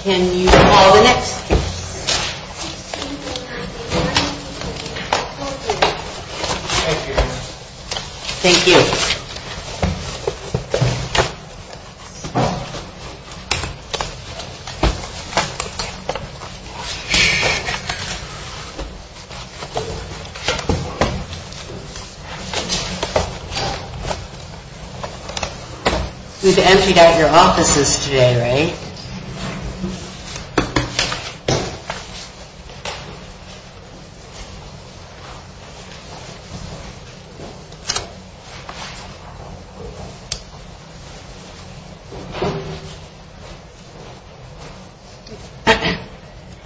Can you call the next? Thank you. We've emptied out your offices today, right?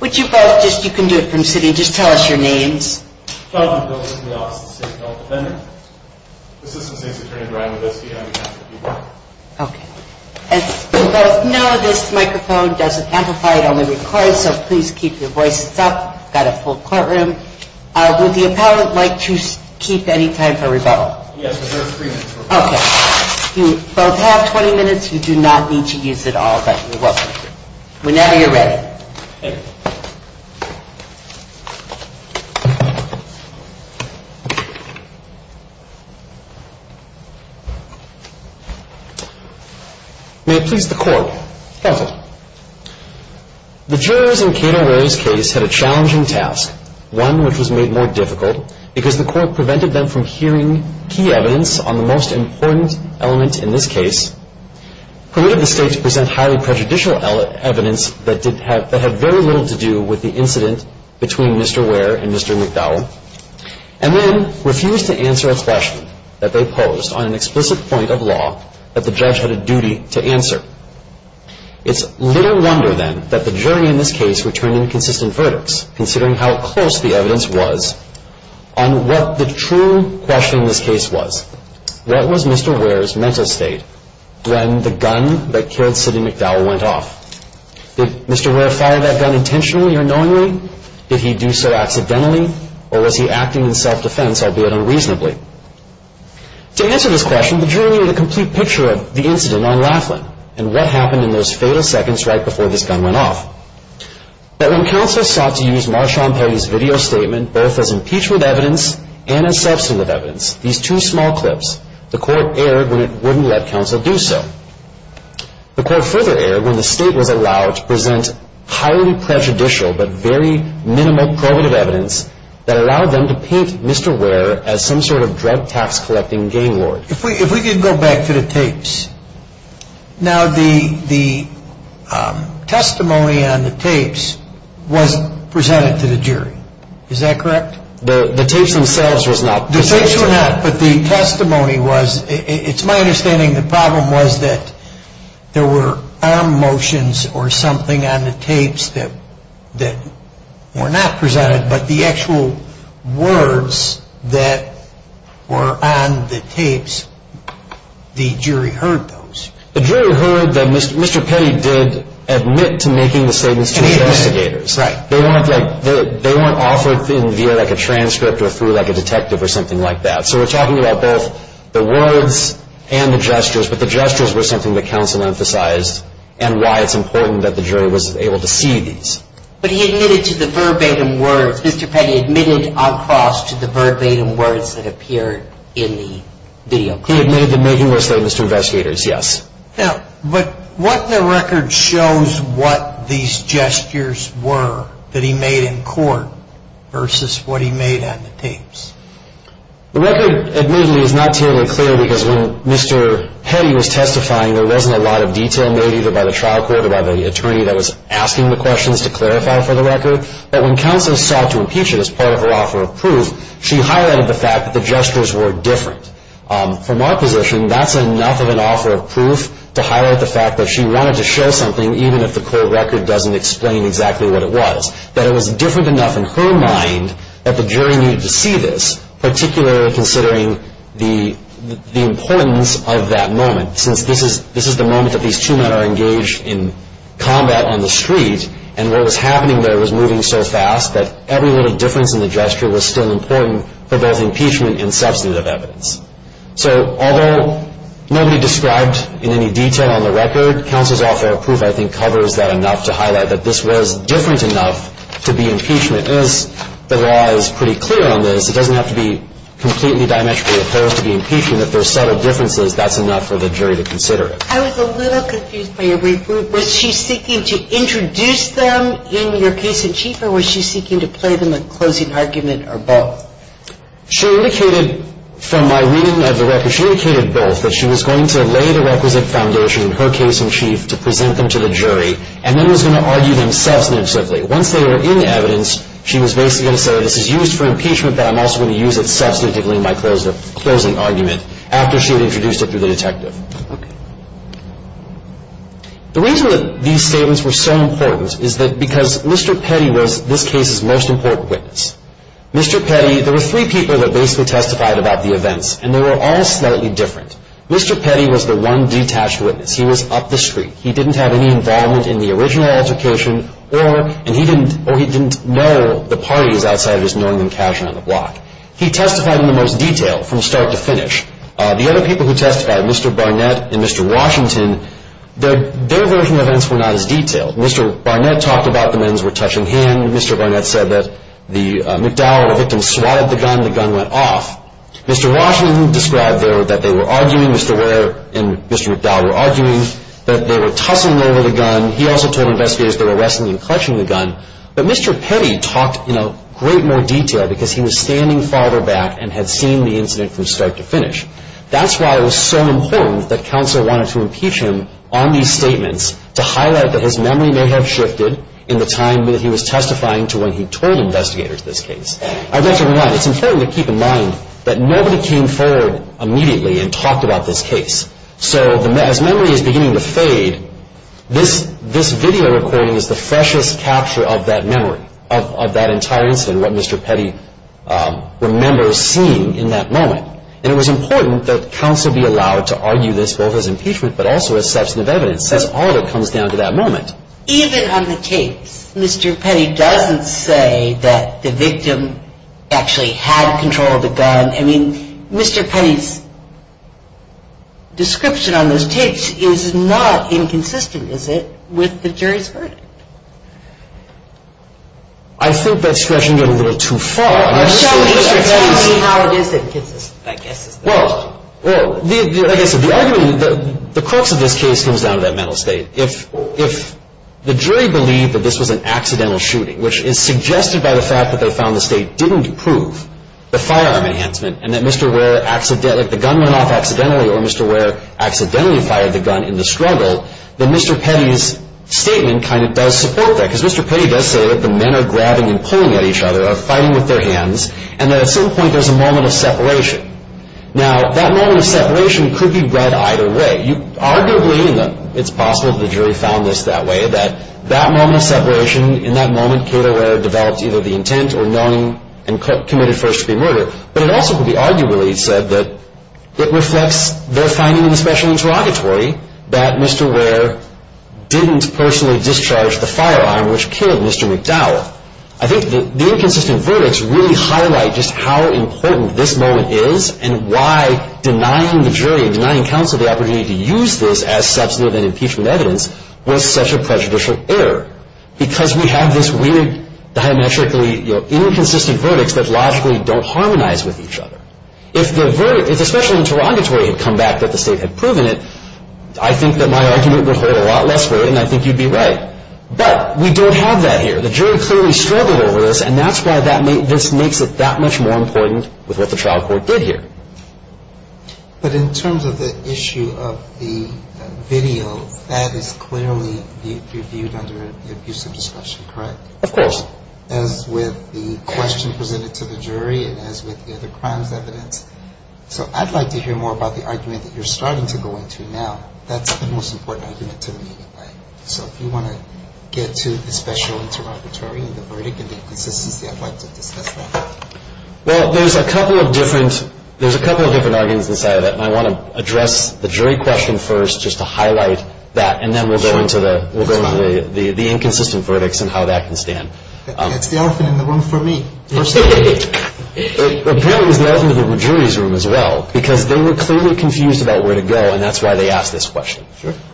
Would you both just, you can do it from sitting, just tell us your names. My name is Jonathan. I'm the assistant state attorney for Imbeski County Council of People. We both know this microphone doesn't amplify, it only records, so please keep your voices up. We've got a full courtroom. Would the appellant like to keep any time for rebuttal? Yes, there's three minutes for rebuttal. Okay. You both have 20 minutes. You do not need to use it all, but you're welcome to. Whenever you're ready. May it please the Court. Counsel. The jurors in Kate O'Reilly's case had a challenging task, one which was made more difficult, because the Court prevented them from hearing key evidence on the most important element in this case, permitted the State to present highly prejudicial evidence that had very little to do with the incident between Mr. Ware and Mr. McDowell, and then refused to answer a question that they posed on an explicit point of law that the judge had a duty to answer. It's little wonder, then, that the jury in this case returned inconsistent verdicts, considering how close the evidence was on what the true question in this case was. What was Mr. Ware's mental state when the gun that killed Sidney McDowell went off? Did Mr. Ware fire that gun intentionally or knowingly? Did he do so accidentally? Or was he acting in self-defense, albeit unreasonably? To answer this question, the jury made a complete picture of the incident on Laughlin and what happened in those fatal seconds right before this gun went off. But when counsel sought to use Marshawn Perry's video statement both as impeachment evidence and as substantive evidence, these two small clips, the Court erred when it wouldn't let counsel do so. The Court further erred when the State was allowed to present highly prejudicial but very minimal probative evidence that allowed them to paint Mr. Ware as some sort of drug tax-collecting game lord. If we could go back to the tapes. Now, the testimony on the tapes was presented to the jury. Is that correct? The tapes themselves were not presented. The tapes were not, but the testimony was. It's my understanding the problem was that there were arm motions or something on the tapes that were not presented, but the actual words that were on the tapes, the jury heard those. The jury heard that Mr. Perry did admit to making the statements to investigators. Right. They weren't offered via like a transcript or through like a detective or something like that. So we're talking about both the words and the gestures, but the gestures were something that counsel emphasized and why it's important that the jury was able to see these. But he admitted to the verbatim words. Mr. Petty admitted on cross to the verbatim words that appeared in the video clip. He admitted to making those statements to investigators, yes. Now, but what the record shows what these gestures were that he made in court versus what he made on the tapes. The record admittedly is not terribly clear because when Mr. Petty was testifying, there wasn't a lot of detail made either by the trial court or by the attorney that was asking the questions to clarify for the record. But when counsel sought to impeach it as part of her offer of proof, she highlighted the fact that the gestures were different. From our position, that's enough of an offer of proof to highlight the fact that she wanted to show something, even if the court record doesn't explain exactly what it was, that it was different enough in her mind that the jury needed to see this, particularly considering the importance of that moment, since this is the moment that these two men are engaged in combat on the street, and what was happening there was moving so fast that every little difference in the gesture was still important for both impeachment and substantive evidence. So although nobody described in any detail on the record counsel's offer of proof, I think covers that enough to highlight that this was different enough to be impeachment. As the law is pretty clear on this, it doesn't have to be completely diametrically opposed to be impeachment. If there are subtle differences, that's enough for the jury to consider it. I was a little confused by your brief. Was she seeking to introduce them in your case in chief or was she seeking to play them a closing argument or both? She indicated from my reading of the record, she indicated both, that she was going to lay the requisite foundation in her case in chief to present them to the jury and then was going to argue them substantively. Once they were in evidence, she was basically going to say this is used for impeachment, but I'm also going to use it substantively in my closing argument after she had introduced it to the detective. Okay. The reason that these statements were so important is because Mr. Petty was this case's most important witness. Mr. Petty, there were three people that basically testified about the events, and they were all slightly different. Mr. Petty was the one detached witness. He was up the street. He didn't have any involvement in the original altercation, and he didn't know the parties outside of just knowing them casually on the block. He testified in the most detail from start to finish. The other people who testified, Mr. Barnett and Mr. Washington, their version of events were not as detailed. Mr. Barnett talked about the men's retouching hand. Mr. Barnett said that the McDowell, the victim, swatted the gun. The gun went off. Mr. Washington described there that they were arguing. Mr. Warren and Mr. McDowell were arguing that they were tussling over the gun. He also told investigators they were wrestling and clutching the gun. But Mr. Petty talked in a great more detail because he was standing farther back and had seen the incident from start to finish. That's why it was so important that counsel wanted to impeach him on these statements to highlight that his memory may have shifted in the time that he was testifying to when he told investigators this case. I'd like to remind, it's important to keep in mind that nobody came forward immediately and talked about this case. So as memory is beginning to fade, this video recording is the freshest capture of that memory, of that entire incident, what Mr. Petty remembers seeing in that moment. And it was important that counsel be allowed to argue this both as impeachment but also as substantive evidence since all of it comes down to that moment. Even on the tapes, Mr. Petty doesn't say that the victim actually had control of the gun. I mean, Mr. Petty's description on those tapes is not inconsistent, is it, with the jury's verdict? I think that's stretching it a little too far. Show me how it is inconsistent, I guess is the question. Well, I guess the argument, the crux of this case comes down to that mental state. If the jury believed that this was an accidental shooting, which is suggested by the fact that they found the state didn't prove the firearm enhancement and that Mr. Ware accidentally, like the gun went off accidentally or Mr. Ware accidentally fired the gun in the struggle, then Mr. Petty's statement kind of does support that because Mr. Petty does say that the men are grabbing and pulling at each other, are fighting with their hands, and that at some point there's a moment of separation. Now, that moment of separation could be read either way. Arguably, it's possible that the jury found this that way, that that moment of separation, in that moment Kate O'Rear developed either the intent or knowing and committed first-degree murder. But it also could be arguably said that it reflects their finding in the special interrogatory that Mr. Ware didn't personally discharge the firearm which killed Mr. McDowell. I think the inconsistent verdicts really highlight just how important this moment is and why denying the jury and denying counsel the opportunity to use this as substantive and impeachment evidence was such a prejudicial error because we have this weird, diametrically inconsistent verdicts that logically don't harmonize with each other. If the special interrogatory had come back that the state had proven it, I think that my argument would hold a lot less weight and I think you'd be right. But we don't have that here. The jury clearly struggled over this and that's why this makes it that much more important with what the trial court did here. But in terms of the issue of the video, that is clearly viewed under abusive discussion, correct? Of course. As with the question presented to the jury and as with the other crimes evidence. So I'd like to hear more about the argument that you're starting to go into now. That's the most important argument to me anyway. So if you want to get to the special interrogatory and the verdict and the inconsistency, I'd like to discuss that. Well, there's a couple of different arguments inside of that and I want to address the jury question first just to highlight that and then we'll go into the inconsistent verdicts and how that can stand. It's the elephant in the room for me. Apparently it was the elephant in the jury's room as well because they were clearly confused about where to go and that's why they asked this question.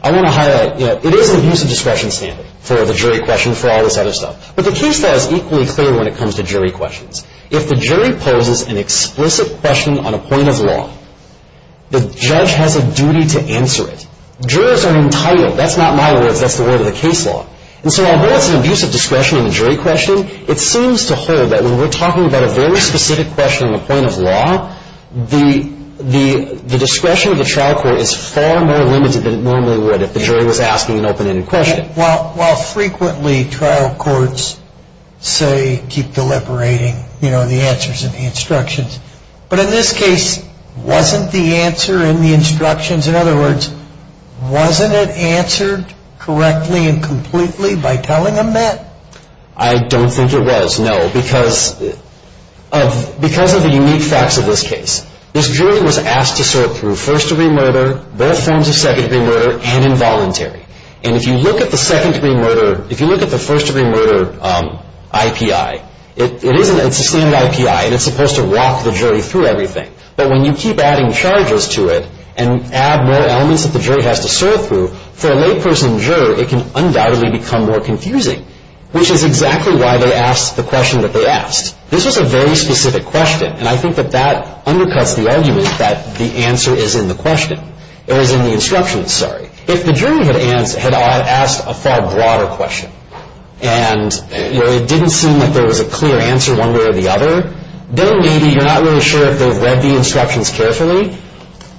I want to highlight, you know, it is an abusive discretion standard for the jury question, for all this other stuff. But the case law is equally clear when it comes to jury questions. If the jury poses an explicit question on a point of law, the judge has a duty to answer it. Jurors are entitled. That's not my words. That's the word of the case law. And so although it's an abusive discretion in the jury question, it seems to hold that when we're talking about a very specific question on a point of law, the discretion of the trial court is far more limited than it normally would if the jury was asking an open-ended question. Well, frequently trial courts say, keep deliberating, you know, the answers in the instructions. But in this case, wasn't the answer in the instructions, in other words, wasn't it answered correctly and completely by telling them that? I don't think it was, no. Because of the unique facts of this case, this jury was asked to sort through first-degree murder, both forms of second-degree murder, and involuntary. And if you look at the second-degree murder, if you look at the first-degree murder IPI, it's a standard IPI, and it's supposed to walk the jury through everything. But when you keep adding charges to it and add more elements that the jury has to sort through, for a layperson juror, it can undoubtedly become more confusing, which is exactly why they asked the question that they asked. This was a very specific question, and I think that that undercuts the argument that the answer is in the question. It was in the instructions, sorry. If the jury had asked a far broader question, and, you know, it didn't seem like there was a clear answer one way or the other, then maybe you're not really sure if they've read the instructions carefully.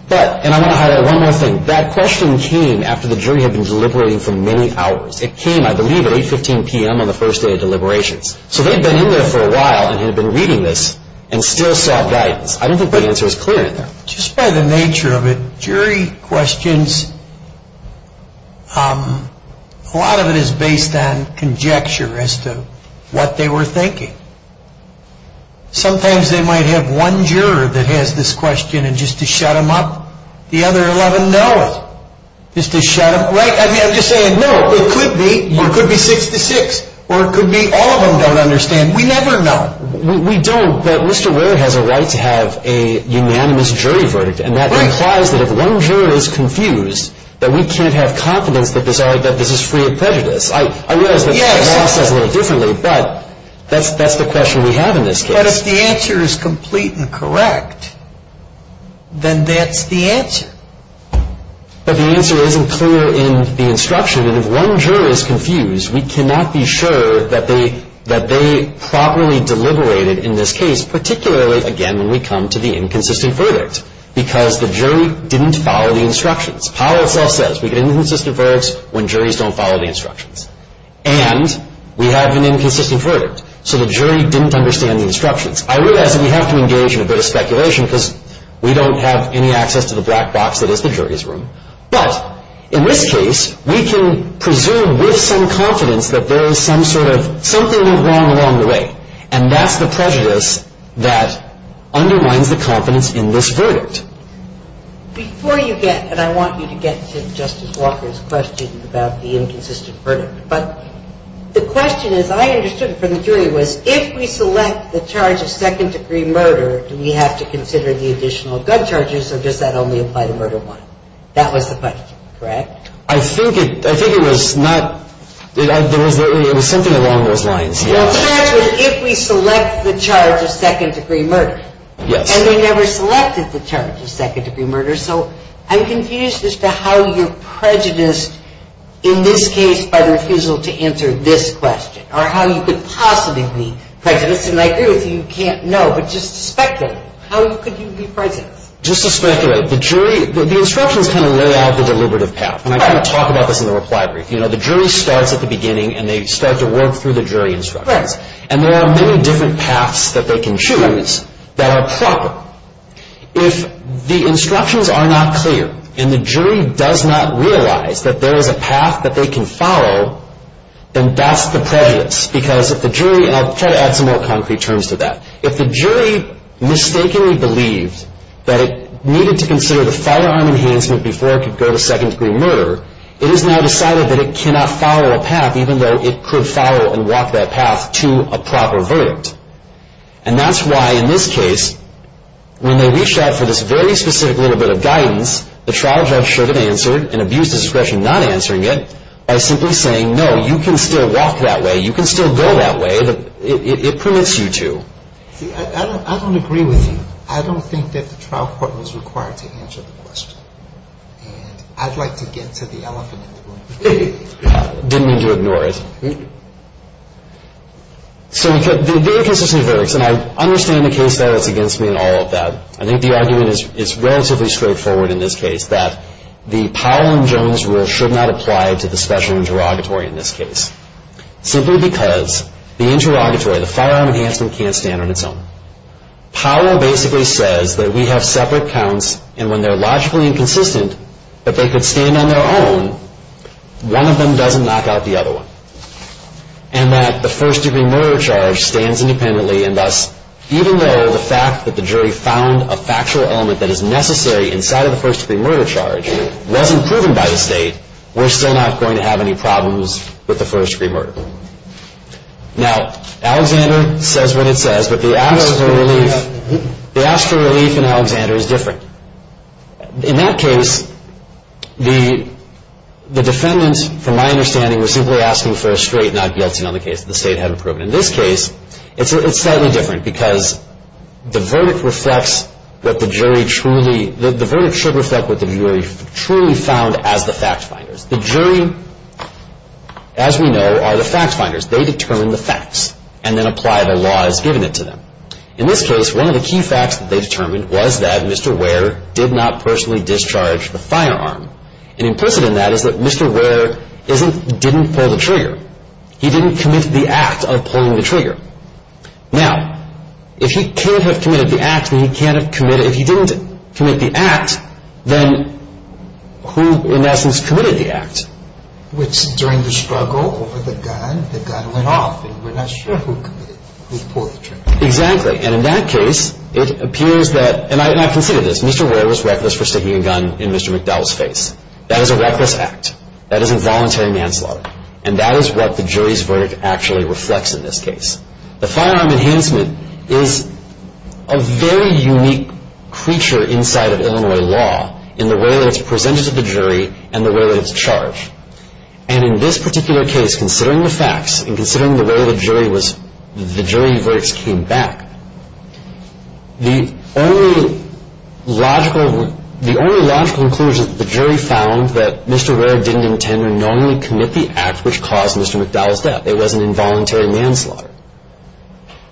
But, and I want to highlight one more thing. That question came after the jury had been deliberating for many hours. It came, I believe, at 8.15 p.m. on the first day of deliberations. So they'd been in there for a while, and had been reading this, and still saw guidance. I don't think the answer is clear in there. Just by the nature of it, jury questions, a lot of it is based on conjecture as to what they were thinking. Sometimes they might have one juror that has this question, and just to shut them up, the other 11 know it. Just to shut them, right? I mean, I'm just saying, no, it could be, or it could be six to six, or it could be all of them don't understand. We never know. We don't, but Mr. Ware has a right to have a unanimous jury verdict, and that implies that if one juror is confused, that we can't have confidence that this is free of prejudice. I realize that the law says a little differently, but that's the question we have in this case. But if the answer is complete and correct, then that's the answer. But the answer isn't clear in the instruction, and if one juror is confused, we cannot be sure that they properly deliberated in this case, particularly, again, when we come to the inconsistent verdict, because the jury didn't follow the instructions. Powell itself says we get inconsistent verdicts when juries don't follow the instructions. And we have an inconsistent verdict, so the jury didn't understand the instructions. I realize that we have to engage in a bit of speculation because we don't have any access to the black box that is the jury's room. But in this case, we can presume with some confidence that there is some sort of something went wrong along the way, and that's the prejudice that undermines the confidence in this verdict. Before you get, and I want you to get to Justice Walker's question about the inconsistent verdict, but the question, as I understood from the jury, was if we select the charge of second-degree murder, do we have to consider the additional gun charges, or does that only apply to murder one? That was the question, correct? I think it was not. It was something along those lines. The charge was if we select the charge of second-degree murder. Yes. And we never selected the charge of second-degree murder, so I'm confused as to how you're prejudiced in this case by the refusal to answer this question, or how you could possibly be prejudiced, and I agree with you, you can't know. But just to speculate, how could you be prejudiced? Just to speculate. The jury, the instructions kind of lay out the deliberative path, and I kind of talk about this in the reply brief. You know, the jury starts at the beginning, and they start to work through the jury instructions. Right. And there are many different paths that they can choose that are proper. If the instructions are not clear, and the jury does not realize that there is a path that they can follow, then that's the prejudice, because if the jury, and I'll try to add some more concrete terms to that, if the jury mistakenly believed that it needed to consider the firearm enhancement before it could go to second-degree murder, it is now decided that it cannot follow a path, even though it could follow and walk that path to a proper verdict. And that's why, in this case, when they reached out for this very specific little bit of guidance, the trial judge should have answered, and abused his discretion not answering it, by simply saying, no, you can still walk that way, you can still go that way, it permits you to. See, I don't agree with you. I don't think that the trial court was required to answer the question. And I'd like to get to the elephant in the room. Didn't mean to ignore it. So the inconsistent verdicts, and I understand the case that is against me in all of that. I think the argument is relatively straightforward in this case, that the Powell and Jones rule should not apply to the special interrogatory in this case, simply because the interrogatory, the firearm enhancement, can't stand on its own. Powell basically says that we have separate counts, and when they're logically inconsistent, that they could stand on their own, one of them doesn't knock out the other one. And that the first degree murder charge stands independently, and thus, even though the fact that the jury found a factual element that is necessary inside of the first degree murder charge wasn't proven by the state, we're still not going to have any problems with the first degree murder. Now, Alexander says what it says, but the ask for relief in Alexander is different. In that case, the defendant, from my understanding, was simply asking for a straight, not guilty, on the case that the state hadn't proven. In this case, it's slightly different, because the verdict reflects what the jury truly, the verdict should reflect what the jury truly found as the fact finders. The jury, as we know, are the fact finders. They determine the facts, and then apply the laws given it to them. In this case, one of the key facts that they determined was that Mr. Ware did not personally discharge the firearm. And implicit in that is that Mr. Ware didn't pull the trigger. He didn't commit the act of pulling the trigger. Now, if he can't have committed the act, then he can't have committed, if he didn't commit the act, then who, in essence, committed the act? Which, during the struggle over the gun, the gun went off, and we're not sure who committed it, who pulled the trigger. Exactly. And in that case, it appears that, and I consider this, Mr. Ware was reckless for sticking a gun in Mr. McDowell's face. That is a reckless act. That is involuntary manslaughter. And that is what the jury's verdict actually reflects in this case. The firearm enhancement is a very unique creature inside of Illinois law in the way that it's presented to the jury and the way that it's charged. And in this particular case, considering the facts and considering the way the jury verdicts came back, the only logical conclusion that the jury found that Mr. Ware didn't intend to knowingly commit the act which caused Mr. McDowell's death. It was an involuntary manslaughter.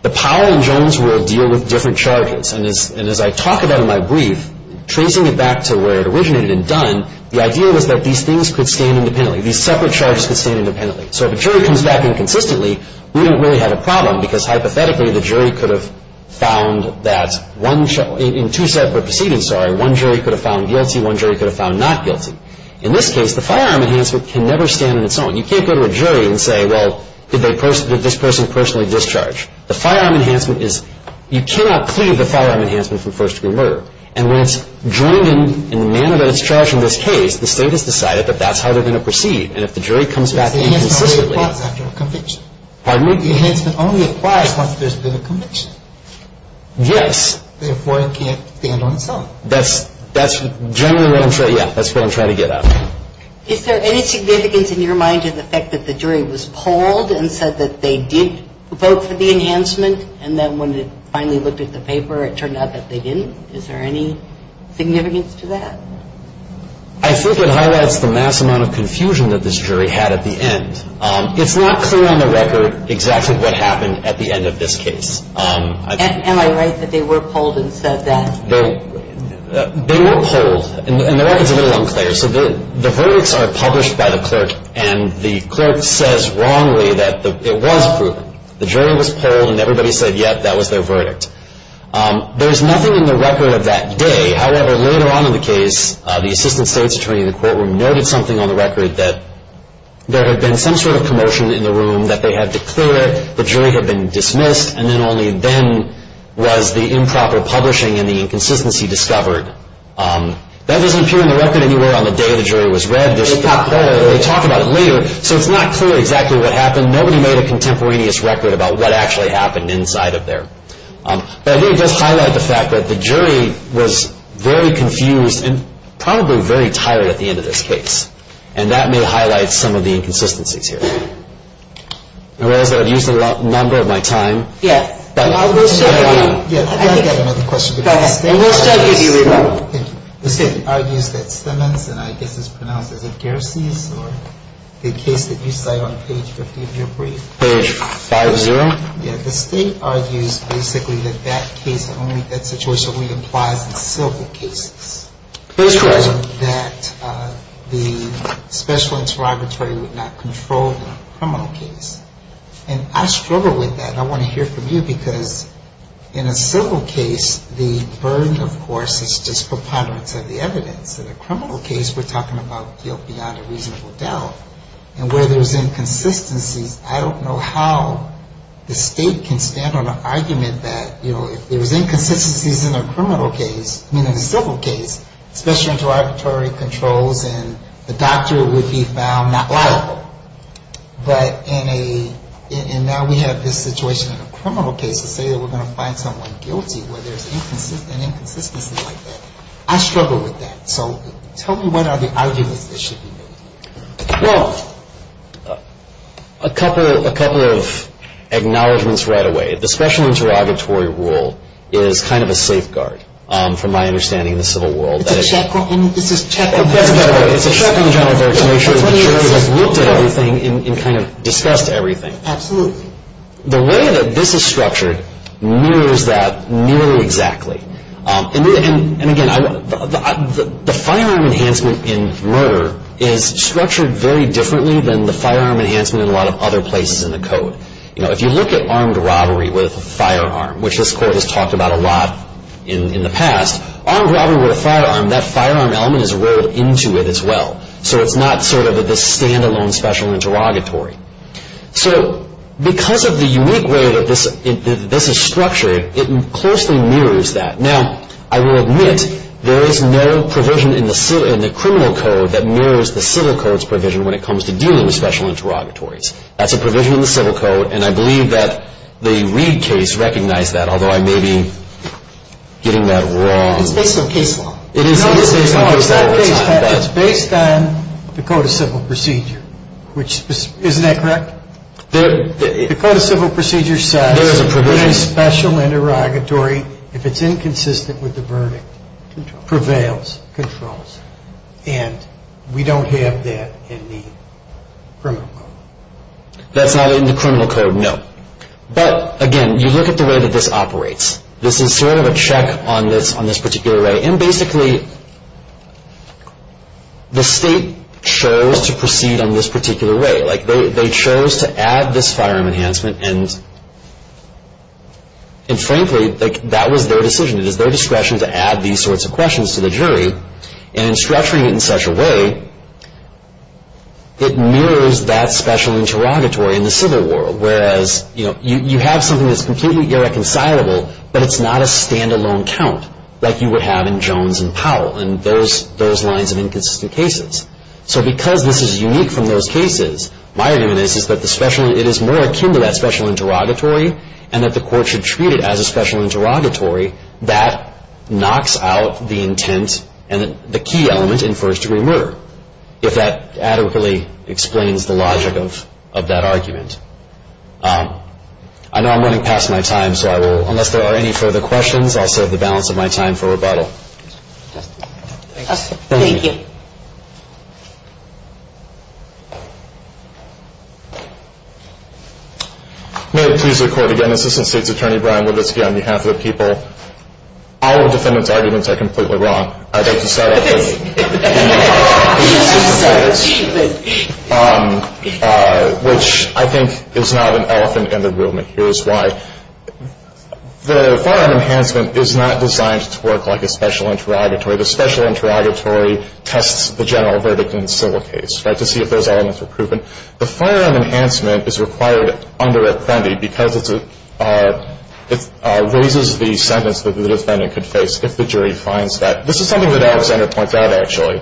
The Powell and Jones rule deal with different charges. And as I talk about in my brief, tracing it back to where it originated and done, the idea was that these things could stand independently. These separate charges could stand independently. So if a jury comes back inconsistently, we don't really have a problem because hypothetically the jury could have found that in two separate proceedings, sorry, one jury could have found guilty, one jury could have found not guilty. In this case, the firearm enhancement can never stand on its own. You can't go to a jury and say, well, did this person personally discharge? The firearm enhancement is, you cannot clear the firearm enhancement from first-degree murder. And when it's joined in the manner that it's charged in this case, the state has decided that that's how they're going to proceed. And if the jury comes back inconsistently. The enhancement only applies after a conviction. Pardon me? The enhancement only applies once there's been a conviction. Yes. Therefore, it can't stand on its own. That's generally what I'm trying to get at. Is there any significance in your mind to the fact that the jury was polled and said that they did vote for the enhancement, and then when it finally looked at the paper it turned out that they didn't? Is there any significance to that? I think it highlights the mass amount of confusion that this jury had at the end. It's not clear on the record exactly what happened at the end of this case. Am I right that they were polled and said that? They were polled. And the record's a little unclear. So the verdicts are published by the clerk, and the clerk says wrongly that it was proven. The jury was polled, and everybody said, yes, that was their verdict. There's nothing in the record of that day. However, later on in the case, the assistant state's attorney in the courtroom noted something on the record that there had been some sort of commotion in the room, that they had declared, the jury had been dismissed, and then only then was the improper publishing and the inconsistency discovered. That doesn't appear in the record anywhere on the day the jury was read. It's not clear. They talk about it later. So it's not clear exactly what happened. Nobody made a contemporaneous record about what actually happened inside of there. But it really does highlight the fact that the jury was very confused and probably very tired at the end of this case, and that may highlight some of the inconsistencies here. And whereas I've used the number of my time. Yeah. I think I have another question. Go ahead. The state argues that Simmons, and I guess it's pronounced as a Gerces, or the case that you cite on page 50 of your brief. Page 5-0. Yeah. The state argues basically that that case only, that situation only applies in civil cases. Page 5-0. That the special interrogatory would not control the criminal case. And I struggle with that, and I want to hear from you, because in a civil case, the burden, of course, is just preponderance of the evidence. In a criminal case, we're talking about guilt beyond a reasonable doubt. And where there's inconsistencies, I don't know how the state can stand on an argument that, you know, if there's inconsistencies in a criminal case, I mean, in a civil case, special interrogatory controls and the doctor would be found not liable. But in a, and now we have this situation in a criminal case to say that we're going to find someone guilty where there's an inconsistency like that. I struggle with that. So tell me what are the arguments that should be made? Well, a couple of acknowledgments right away. The special interrogatory rule is kind of a safeguard, from my understanding in the civil world. It's a check on the general verdict. It's a check on the general verdict to make sure that the jury has looked at everything and kind of discussed everything. Absolutely. The way that this is structured mirrors that nearly exactly. And again, the firearm enhancement in murder is structured very differently than the firearm enhancement in a lot of other places in the code. You know, if you look at armed robbery with a firearm, which this court has talked about a lot in the past, armed robbery with a firearm, that firearm element is rolled into it as well. So it's not sort of this standalone special interrogatory. So because of the unique way that this is structured, it closely mirrors that. Now, I will admit there is no provision in the criminal code that mirrors the civil code's provision when it comes to dealing with special interrogatories. That's a provision in the civil code, and I believe that the Reed case recognized that, although I may be getting that wrong. It's based on case law. It is based on case law. It's based on the Code of Civil Procedure, which isn't that correct? The Code of Civil Procedure says in a special interrogatory, if it's inconsistent with the verdict, prevails, controls. And we don't have that in the criminal code. That's not in the criminal code, no. But, again, you look at the way that this operates. This is sort of a check on this particular way. And, basically, the state chose to proceed on this particular way. They chose to add this firearm enhancement, and, frankly, that was their decision. It is their discretion to add these sorts of questions to the jury. And in structuring it in such a way, it mirrors that special interrogatory in the civil world, whereas you have something that's completely irreconcilable, but it's not a stand-alone count like you would have in Jones and Powell and those lines of inconsistent cases. So because this is unique from those cases, my argument is that it is more akin to that special interrogatory and that the court should treat it as a special interrogatory. That knocks out the intent and the key element in first-degree murder, if that adequately explains the logic of that argument. I know I'm running past my time, so I will, unless there are any further questions, I'll set the balance of my time for rebuttal. Thank you. Thank you. May it please the Court again, Assistant State's Attorney Brian Wibitzki, on behalf of the people. All of the defendants' arguments are completely wrong. I'd like to start off with the Assistant State's, which I think is not an elephant in the room, and here's why. The firearm enhancement is not designed to work like a special interrogatory. The special interrogatory tests the general verdict in the civil case, right, to see if those elements are proven. The firearm enhancement is required under Apprendi because it raises the sentence that the defendant could face if the jury finds that. This is something that Alexander points out, actually.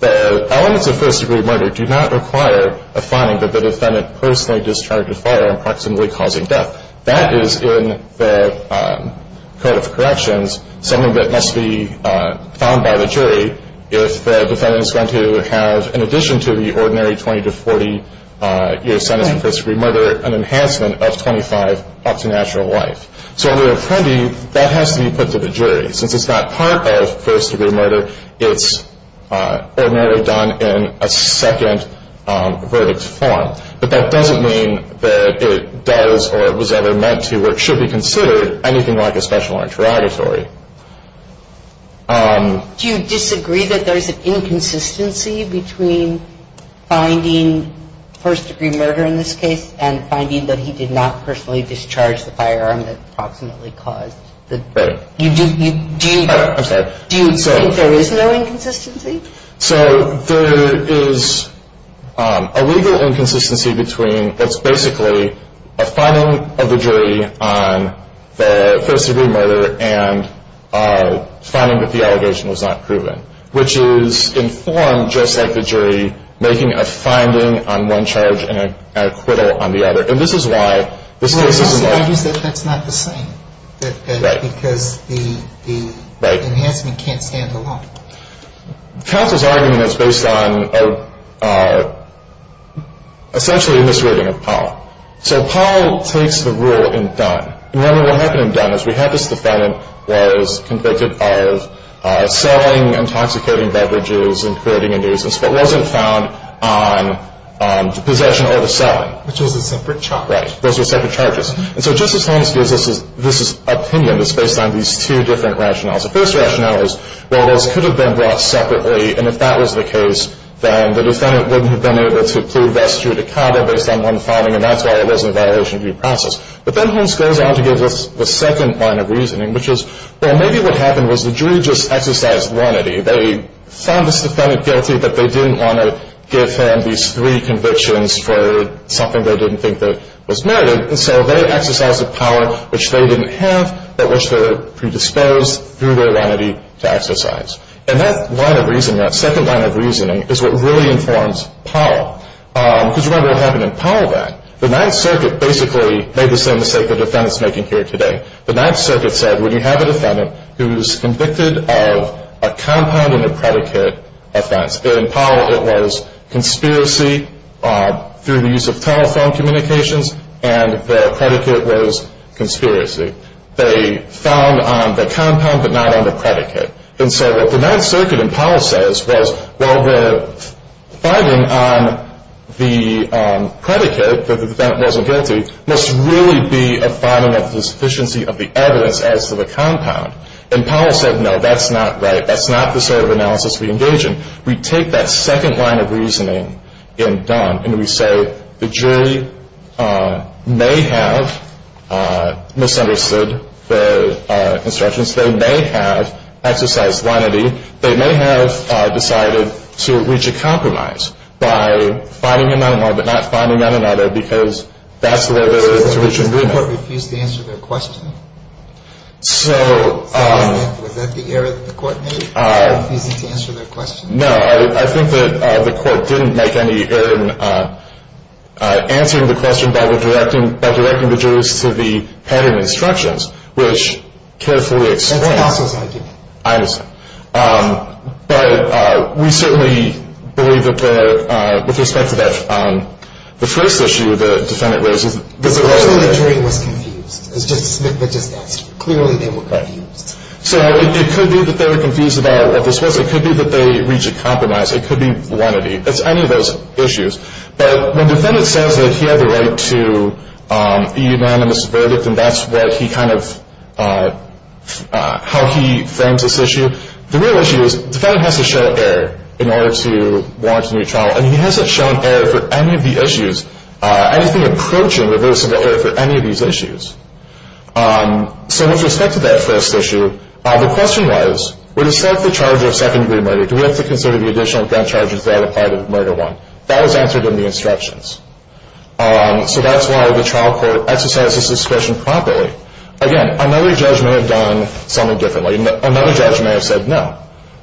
The elements of first-degree murder do not require a finding that the defendant personally discharged a firearm proximately causing death. That is, in the Code of Corrections, something that must be found by the jury if the defendant is going to have, in addition to the ordinary 20 to 40-year sentence for first-degree murder, an enhancement of 25 up to natural life. So under Apprendi, that has to be put to the jury. Since it's not part of first-degree murder, it's ordinarily done in a second verdict form. But that doesn't mean that it does or was ever meant to or should be considered anything like a special interrogatory. Do you disagree that there's an inconsistency between finding first-degree murder in this case and finding that he did not personally discharge the firearm that proximately caused the death? Okay. Do you think there is no inconsistency? So there is a legal inconsistency between what's basically a finding of the jury on the first-degree murder and finding that the allegation was not proven, which is in form just like the jury making a finding on one charge and an acquittal on the other. And this is why this case is in law. But you said that's not the same because the enhancement can't stand alone. Counsel's argument is based on essentially misreading of Paul. So Paul takes the rule in Dunn. And what happened in Dunn is we had this defendant who was convicted of selling intoxicating beverages and creating a nuisance but wasn't found on possession or the selling. Which was a separate charge. Right. Those were separate charges. And so Justice Holmes gives us this opinion. It's based on these two different rationales. The first rationale is, well, those could have been brought separately. And if that was the case, then the defendant wouldn't have been able to plead rest judicata based on one finding. And that's why it wasn't a violation of due process. But then Holmes goes on to give us the second line of reasoning, which is, well, maybe what happened was the jury just exercised lenity. They found this defendant guilty, but they didn't want to give him these three convictions for something they didn't think that was merited. And so they exercised a power which they didn't have but which they were predisposed through their lenity to exercise. And that line of reasoning, that second line of reasoning, is what really informs Paul. Because remember what happened in Paul then. The Ninth Circuit basically made the same mistake the defendant's making here today. The Ninth Circuit said when you have a defendant who's convicted of a compound and a predicate offense, in Paul it was conspiracy through the use of telephone communications, and the predicate was conspiracy. They found on the compound but not on the predicate. And so what the Ninth Circuit in Paul says was, well, the finding on the predicate, that the defendant wasn't guilty, must really be a finding of the sufficiency of the evidence as to the compound. And Paul said, no, that's not right. That's not the sort of analysis we engage in. We take that second line of reasoning in Dunn, and we say the jury may have misunderstood the instructions. They may have exercised lenity. They may have decided to reach a compromise by finding on one but not finding on another, because that's the way the jury should do that. So does that mean the court refused to answer their question? Was that the error that the court made? The court refused to answer their question? No. I think that the court didn't make any error in answering the question by directing the jury to the pattern of instructions, which carefully explains. That's also his idea. I understand. But we certainly believe that with respect to that first issue the defendant raises. Originally the jury was confused. It's just that clearly they were confused. So it could be that they were confused about what this was. It could be that they reached a compromise. It could be lenity. It's any of those issues. But when the defendant says that he had the right to a unanimous verdict and that's what he kind of, how he frames this issue, the real issue is the defendant has to show error in order to warrant a new trial, and he hasn't shown error for any of the issues. I don't think he approached it with any of these issues. So with respect to that first issue, the question was, when you set up the charge of second-degree murder, do we have to consider the additional gun charges that are part of murder one? That was answered in the instructions. So that's why the trial court exercised its discretion properly. Again, another judge may have done something differently. Another judge may have said no.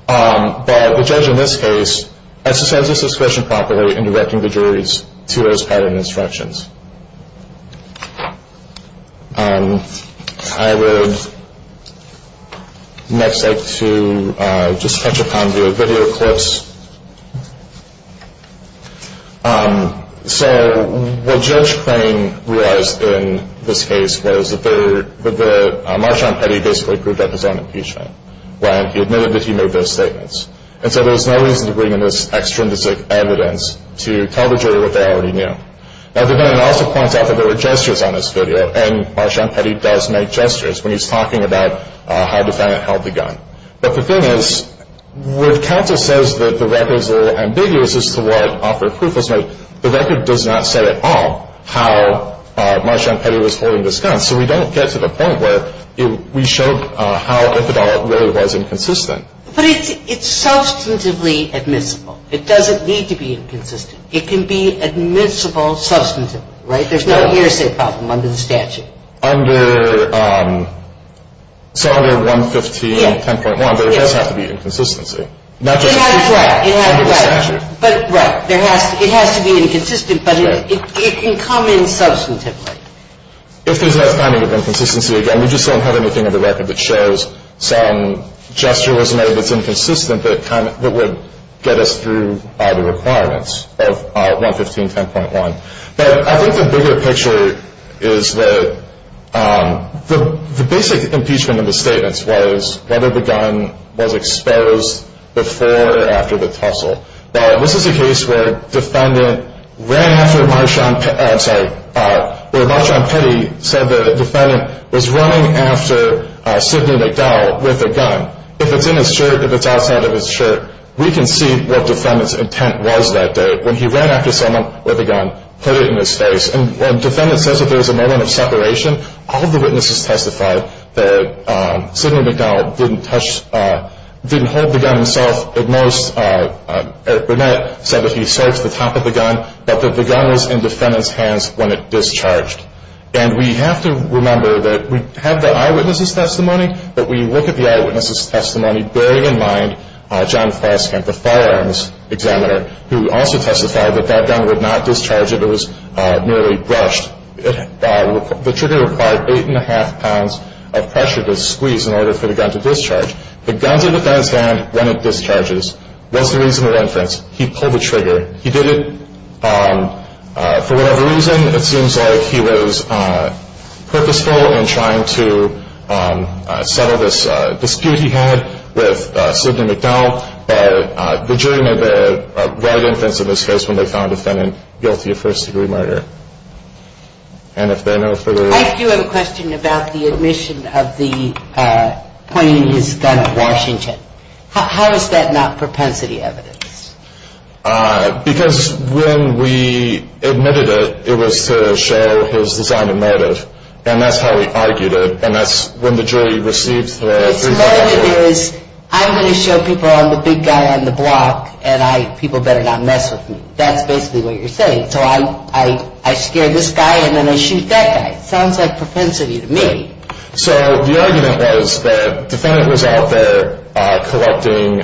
But the judge in this case exercised his discretion properly in directing the juries to those pattern instructions. I would next like to just touch upon the video clips. So what Judge Crane realized in this case was that Marchand Petty basically proved that his own impeachment. He admitted that he made those statements. And so there was no reason to bring in this extra evidence to tell the jury what they already knew. Now, the defendant also points out that there were gestures on this video, and Marchand Petty does make gestures when he's talking about how the defendant held the gun. But the thing is, when counsel says that the records are ambiguous as to what offer proof was made, the record does not say at all how Marchand Petty was holding this gun. So we don't get to the point where we show how if at all it really was inconsistent. But it's substantively admissible. It doesn't need to be inconsistent. It can be admissible substantively, right? There's no hearsay problem under the statute. So under 115.10.1, there does have to be inconsistency. It has to be inconsistent, but it can come in substantively. If there's that kind of inconsistency, again, we just don't have anything in the record that shows some gesture was made that's inconsistent that would get us through the requirements of 115.10.1. But I think the bigger picture is that the basic impeachment in the statements was whether the gun was exposed before or after the tussle. But this is a case where Marchand Petty said the defendant was running after Sidney McDowell with a gun. If it's in his shirt, if it's outside of his shirt, we can see what defendant's intent was that day. When he ran after someone with a gun, put it in his face. And when defendant says that there was a moment of separation, all of the witnesses testified that Sidney McDowell didn't hold the gun himself at most. Burnett said that he searched the top of the gun, but that the gun was in defendant's hands when it discharged. And we have to remember that we have the eyewitness's testimony, but we look at the eyewitness's testimony bearing in mind John Foskamp, the firearms examiner, who also testified that that gun would not discharge if it was merely brushed. The trigger required eight and a half pounds of pressure to squeeze in order for the gun to discharge. The gun's in the defendant's hand when it discharges was the reason for the inference. He pulled the trigger. He did it for whatever reason. It seems like he was purposeful in trying to settle this dispute he had with Sidney McDowell. The jury made the right inference in this case when they found the defendant guilty of first-degree murder. And if there are no further... I do have a question about the admission of the pointing his gun at Washington. How is that not propensity evidence? Because when we admitted it, it was to show his desire to murder. And that's how we argued it. And that's when the jury received the... I'm going to show people I'm the big guy on the block, and people better not mess with me. That's basically what you're saying. So I scare this guy, and then I shoot that guy. Sounds like propensity to me. So the argument was that the defendant was out there collecting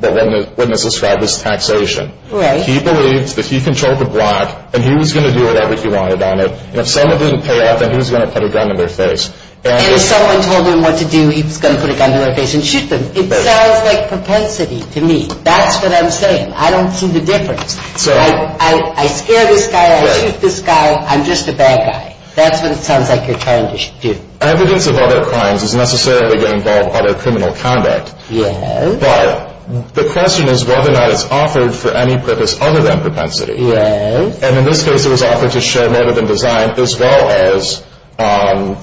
the witness described as taxation. Right. He believed that he controlled the block, and he was going to do whatever he wanted on it. And if someone didn't pay up, then he was going to put a gun in their face. And if someone told him what to do, he was going to put a gun to their face and shoot them. It sounds like propensity to me. That's what I'm saying. I don't see the difference. I scare this guy, I shoot this guy, I'm just a bad guy. That's what it sounds like you're trying to do. Evidence of other crimes is necessarily going to involve other criminal conduct. Yes. But the question is whether or not it's offered for any purpose other than propensity. Yes. And in this case, it was offered to show rather than design, as well as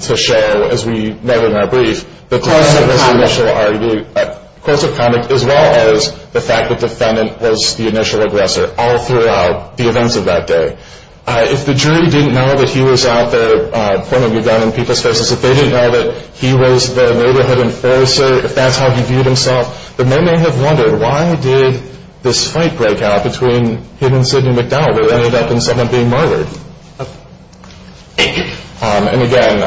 to show, as we noted in our brief, the cause of initial conduct as well as the fact that the defendant was the initial aggressor all throughout the events of that day. If the jury didn't know that he was out there pointing a gun in people's faces, if they didn't know that he was the neighborhood enforcer, if that's how he viewed himself, then they may have wondered, why did this fight break out between him and Sidney McDonald, where they ended up in someone being murdered? And again,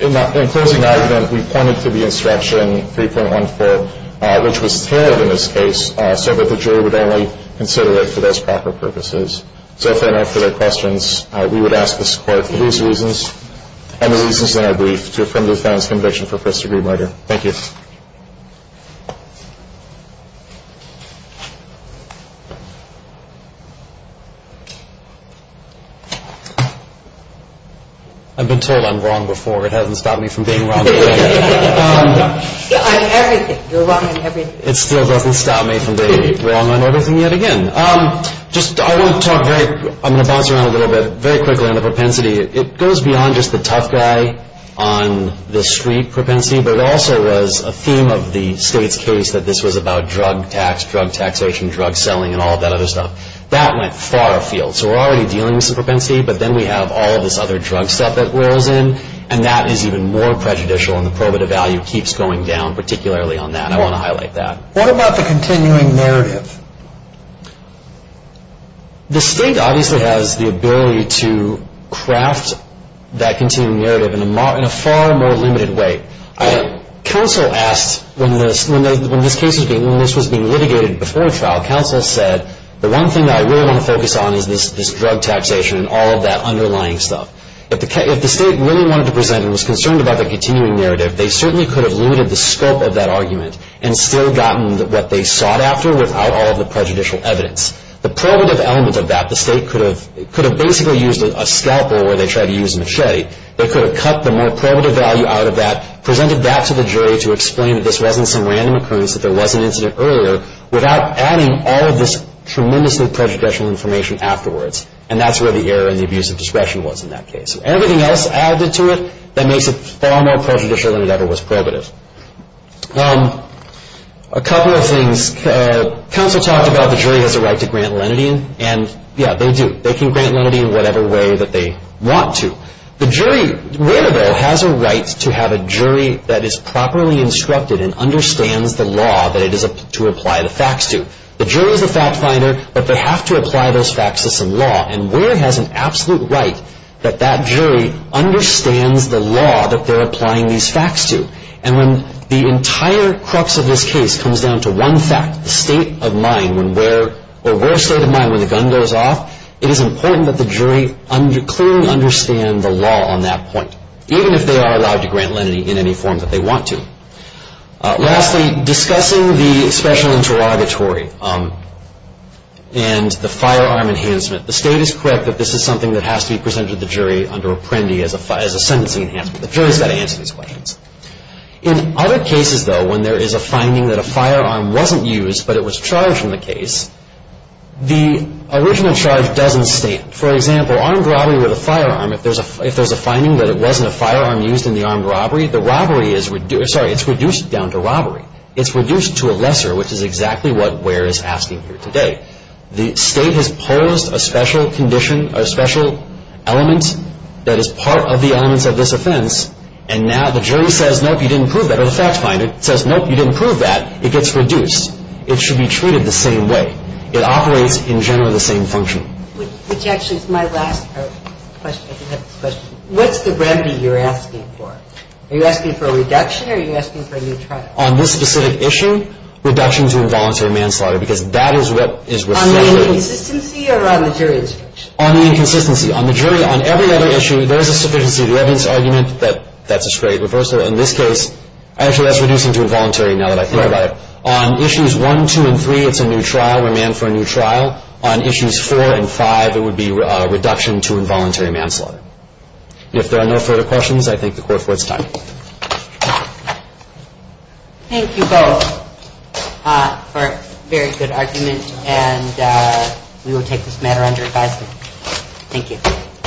in closing argument, we pointed to the instruction 3.14, which was tarred in this case, so that the jury would only consider it for those proper purposes. So if there are no further questions, we would ask the court for these reasons and the reasons in our brief to affirm the defendant's conviction for first-degree murder. Thank you. I've been told I'm wrong before. It hasn't stopped me from being wrong. On everything. You're wrong on everything. It still doesn't stop me from being wrong on everything yet again. I'm going to bounce around a little bit very quickly on the propensity. It goes beyond just the tough guy on the street propensity, but it also was a theme of the state's case that this was about drug tax, drug taxation, drug selling, and all of that other stuff. That went far afield. So we're already dealing with some propensity, but then we have all of this other drug stuff that wears in, and that is even more prejudicial, and the probative value keeps going down, particularly on that. I want to highlight that. What about the continuing narrative? The state obviously has the ability to craft that continuing narrative in a far more limited way. Counsel asked when this case was being litigated before trial, counsel said the one thing that I really want to focus on is this drug taxation and all of that underlying stuff. If the state really wanted to present and was concerned about the continuing narrative, they certainly could have limited the scope of that argument and still gotten what they sought after without all of the prejudicial evidence. The probative element of that, the state could have basically used a scalpel where they tried to use a machete. They could have cut the more probative value out of that, presented that to the jury to explain that this wasn't some random occurrence, that there was an incident earlier, without adding all of this tremendously prejudicial information afterwards, and that's where the error in the abuse of discretion was in that case. Everything else added to it, that makes it far more prejudicial than it ever was probative. A couple of things. Counsel talked about the jury has a right to grant lenity, and yeah, they do. They can grant lenity in whatever way that they want to. The jury has a right to have a jury that is properly instructed and understands the law that it is to apply the facts to. The jury is the fact finder, but they have to apply those facts to some law, and Ware has an absolute right that that jury understands the law that they're applying these facts to, and when the entire crux of this case comes down to one fact, the state of mind when Ware's state of mind when the gun goes off, it is important that the jury clearly understand the law on that point, even if they are allowed to grant lenity in any form that they want to. Lastly, discussing the special interrogatory and the firearm enhancement, the state is correct that this is something that has to be presented to the jury under Apprendi as a sentencing enhancement. The jury has got to answer these questions. In other cases, though, when there is a finding that a firearm wasn't used, but it was charged in the case, the original charge doesn't stand. For example, armed robbery with a firearm, if there's a finding that it wasn't a firearm used in the armed robbery, the robbery is reduced down to robbery. It's reduced to a lesser, which is exactly what Ware is asking here today. The state has posed a special condition or special element that is part of the elements of this offense, and now the jury says, nope, you didn't prove that, or the fact finder says, nope, you didn't prove that. It gets reduced. It should be treated the same way. It operates in general the same function. Which actually is my last question. What's the remedy you're asking for? Are you asking for a reduction or are you asking for a new trial? On this specific issue, reduction to involuntary manslaughter, because that is what is reflected. On the inconsistency or on the jury? On the inconsistency. On the jury, on every other issue, there is a sufficiency of evidence argument that that's a straight reversal. In this case, actually that's reducing to involuntary now that I think about it. On issues one, two, and three, it's a new trial. We're manned for a new trial. On issues four and five, it would be a reduction to involuntary manslaughter. If there are no further questions, I thank the Court for its time. Thank you both for a very good argument, and we will take this matter under advisement. Thank you.